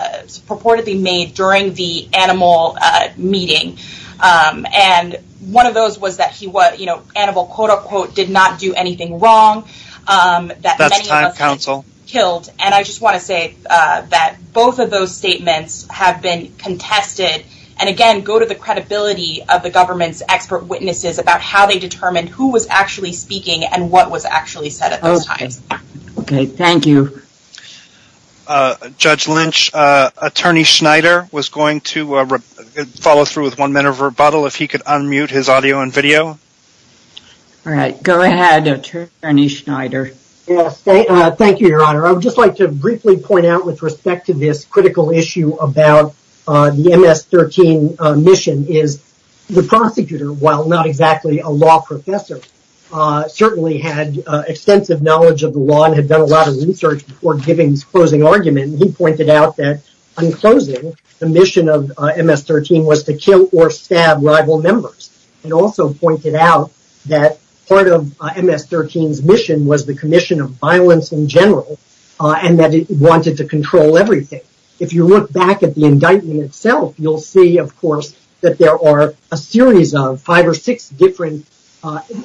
purportedly made during the animal meeting, and one of those was that he was, you know, animal, quote, unquote, did not do anything wrong. That's time, counsel. Killed, and I just want to say that both of those statements have been contested, and again, go to the credibility of the government's expert witnesses about how they determined who was actually speaking and what was actually said at those times. Okay, thank you. Judge Lynch, Attorney Schneider was going to follow through with one minute of rebuttal. If he could unmute his audio and video. All right, go ahead, Attorney Schneider. Yes, thank you, Your Honor. I would just like to briefly point out with respect to this critical issue about the MS-13 mission is the prosecutor, while not exactly a law professor, certainly had extensive knowledge of the law and had done a lot of research before giving his closing argument, and he pointed out that, in closing, the mission of MS-13 was to kill or stab rival members. He also pointed out that part of MS-13's mission was the commission of violence in general and that it wanted to control everything. If you look back at the indictment itself, you'll see, of course, that there are a series of five or six different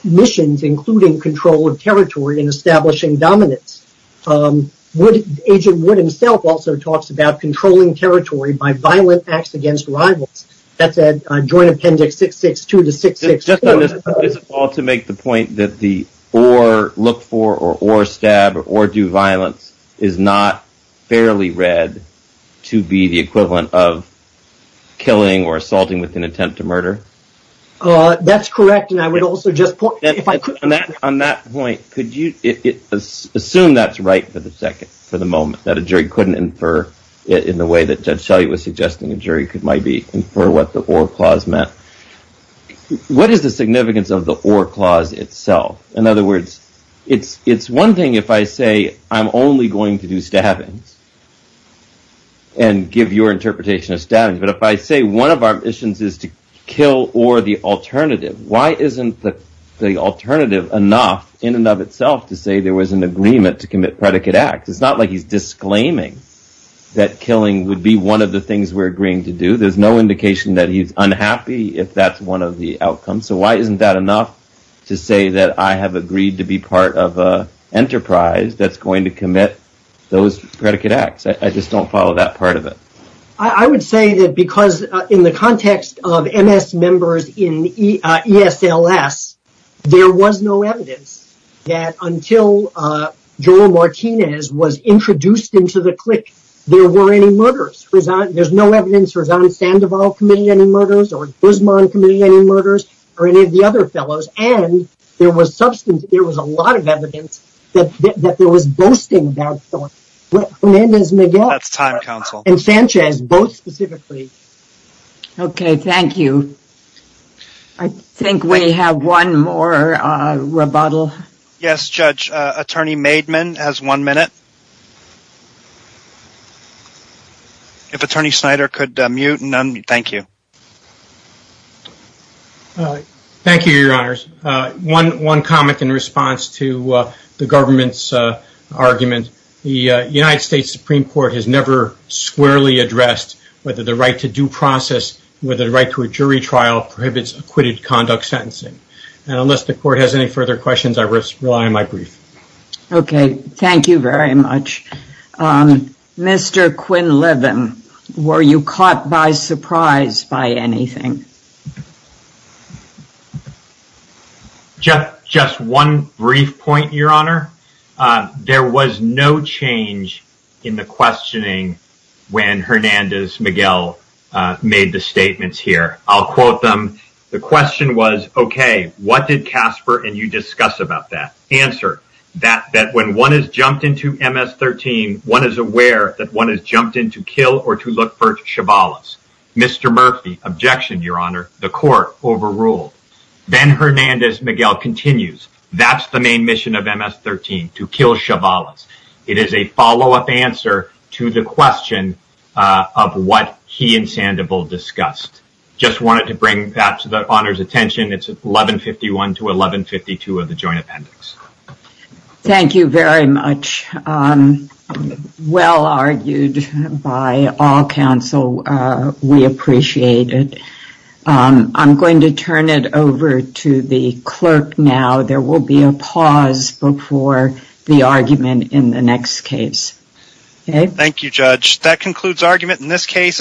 missions, including control of territory and establishing dominance. Agent Wood himself also talks about controlling territory by violent acts against rivals. That's at Joint Appendix 662 to 664. Just to make the point that the or look for or stab or do violence is not fairly read to be the equivalent of killing or assaulting with an attempt to murder? That's correct, and I would also just point out if I could. On that point, could you assume that's right for the moment, that a jury couldn't infer in the way that Judge Shelley was suggesting a jury might infer what the or clause meant? What is the significance of the or clause itself? In other words, it's one thing if I say I'm only going to do stabbings and give your interpretation of stabbings, but if I say one of our missions is to kill or the alternative, why isn't the alternative enough in and of itself to say there was an agreement to commit predicate acts? It's not like he's disclaiming that killing would be one of the things we're agreeing to do. There's no indication that he's unhappy if that's one of the outcomes. So why isn't that enough to say that I have agreed to be part of an enterprise that's going to commit those predicate acts? I just don't follow that part of it. I would say that because in the context of MS members in ESLS, there was no evidence that until Joel Martinez was introduced into the clique, there were any murders. There's no evidence that there was on Sandoval's committee any murders or Guzman's committee any murders or any of the other fellows. And there was a lot of evidence that there was boasting about that. That's time, Counsel. And Sanchez, both specifically. Okay, thank you. I think we have one more rebuttal. Yes, Judge. Attorney Maidman has one minute. If Attorney Snyder could mute and unmute. Thank you. Thank you, Your Honors. One comment in response to the government's argument. The United States Supreme Court has never squarely addressed whether the right to due process, whether the right to a jury trial prohibits acquitted conduct sentencing. And unless the Court has any further questions, I rely on my brief. Okay, thank you very much. Mr. Quinlivan, were you caught by surprise by anything? Just one brief point, Your Honor. There was no change in the questioning when Hernandez-Miguel made the statements here. I'll quote them. The question was, okay, what did Casper and you discuss about that? That when one has jumped into MS-13, one is aware that one has jumped in to kill or to look for Chavales. Mr. Murphy, objection, Your Honor. The Court overruled. Then Hernandez-Miguel continues, that's the main mission of MS-13, to kill Chavales. It is a follow-up answer to the question of what he and Sandoval discussed. Just wanted to bring that to the Honor's attention. It's 1151 to 1152 of the joint appendix. Thank you very much. Well argued by all counsel. We appreciate it. I'm going to turn it over to the clerk now. There will be a pause before the argument in the next case. Thank you, Judge. That concludes argument in this case.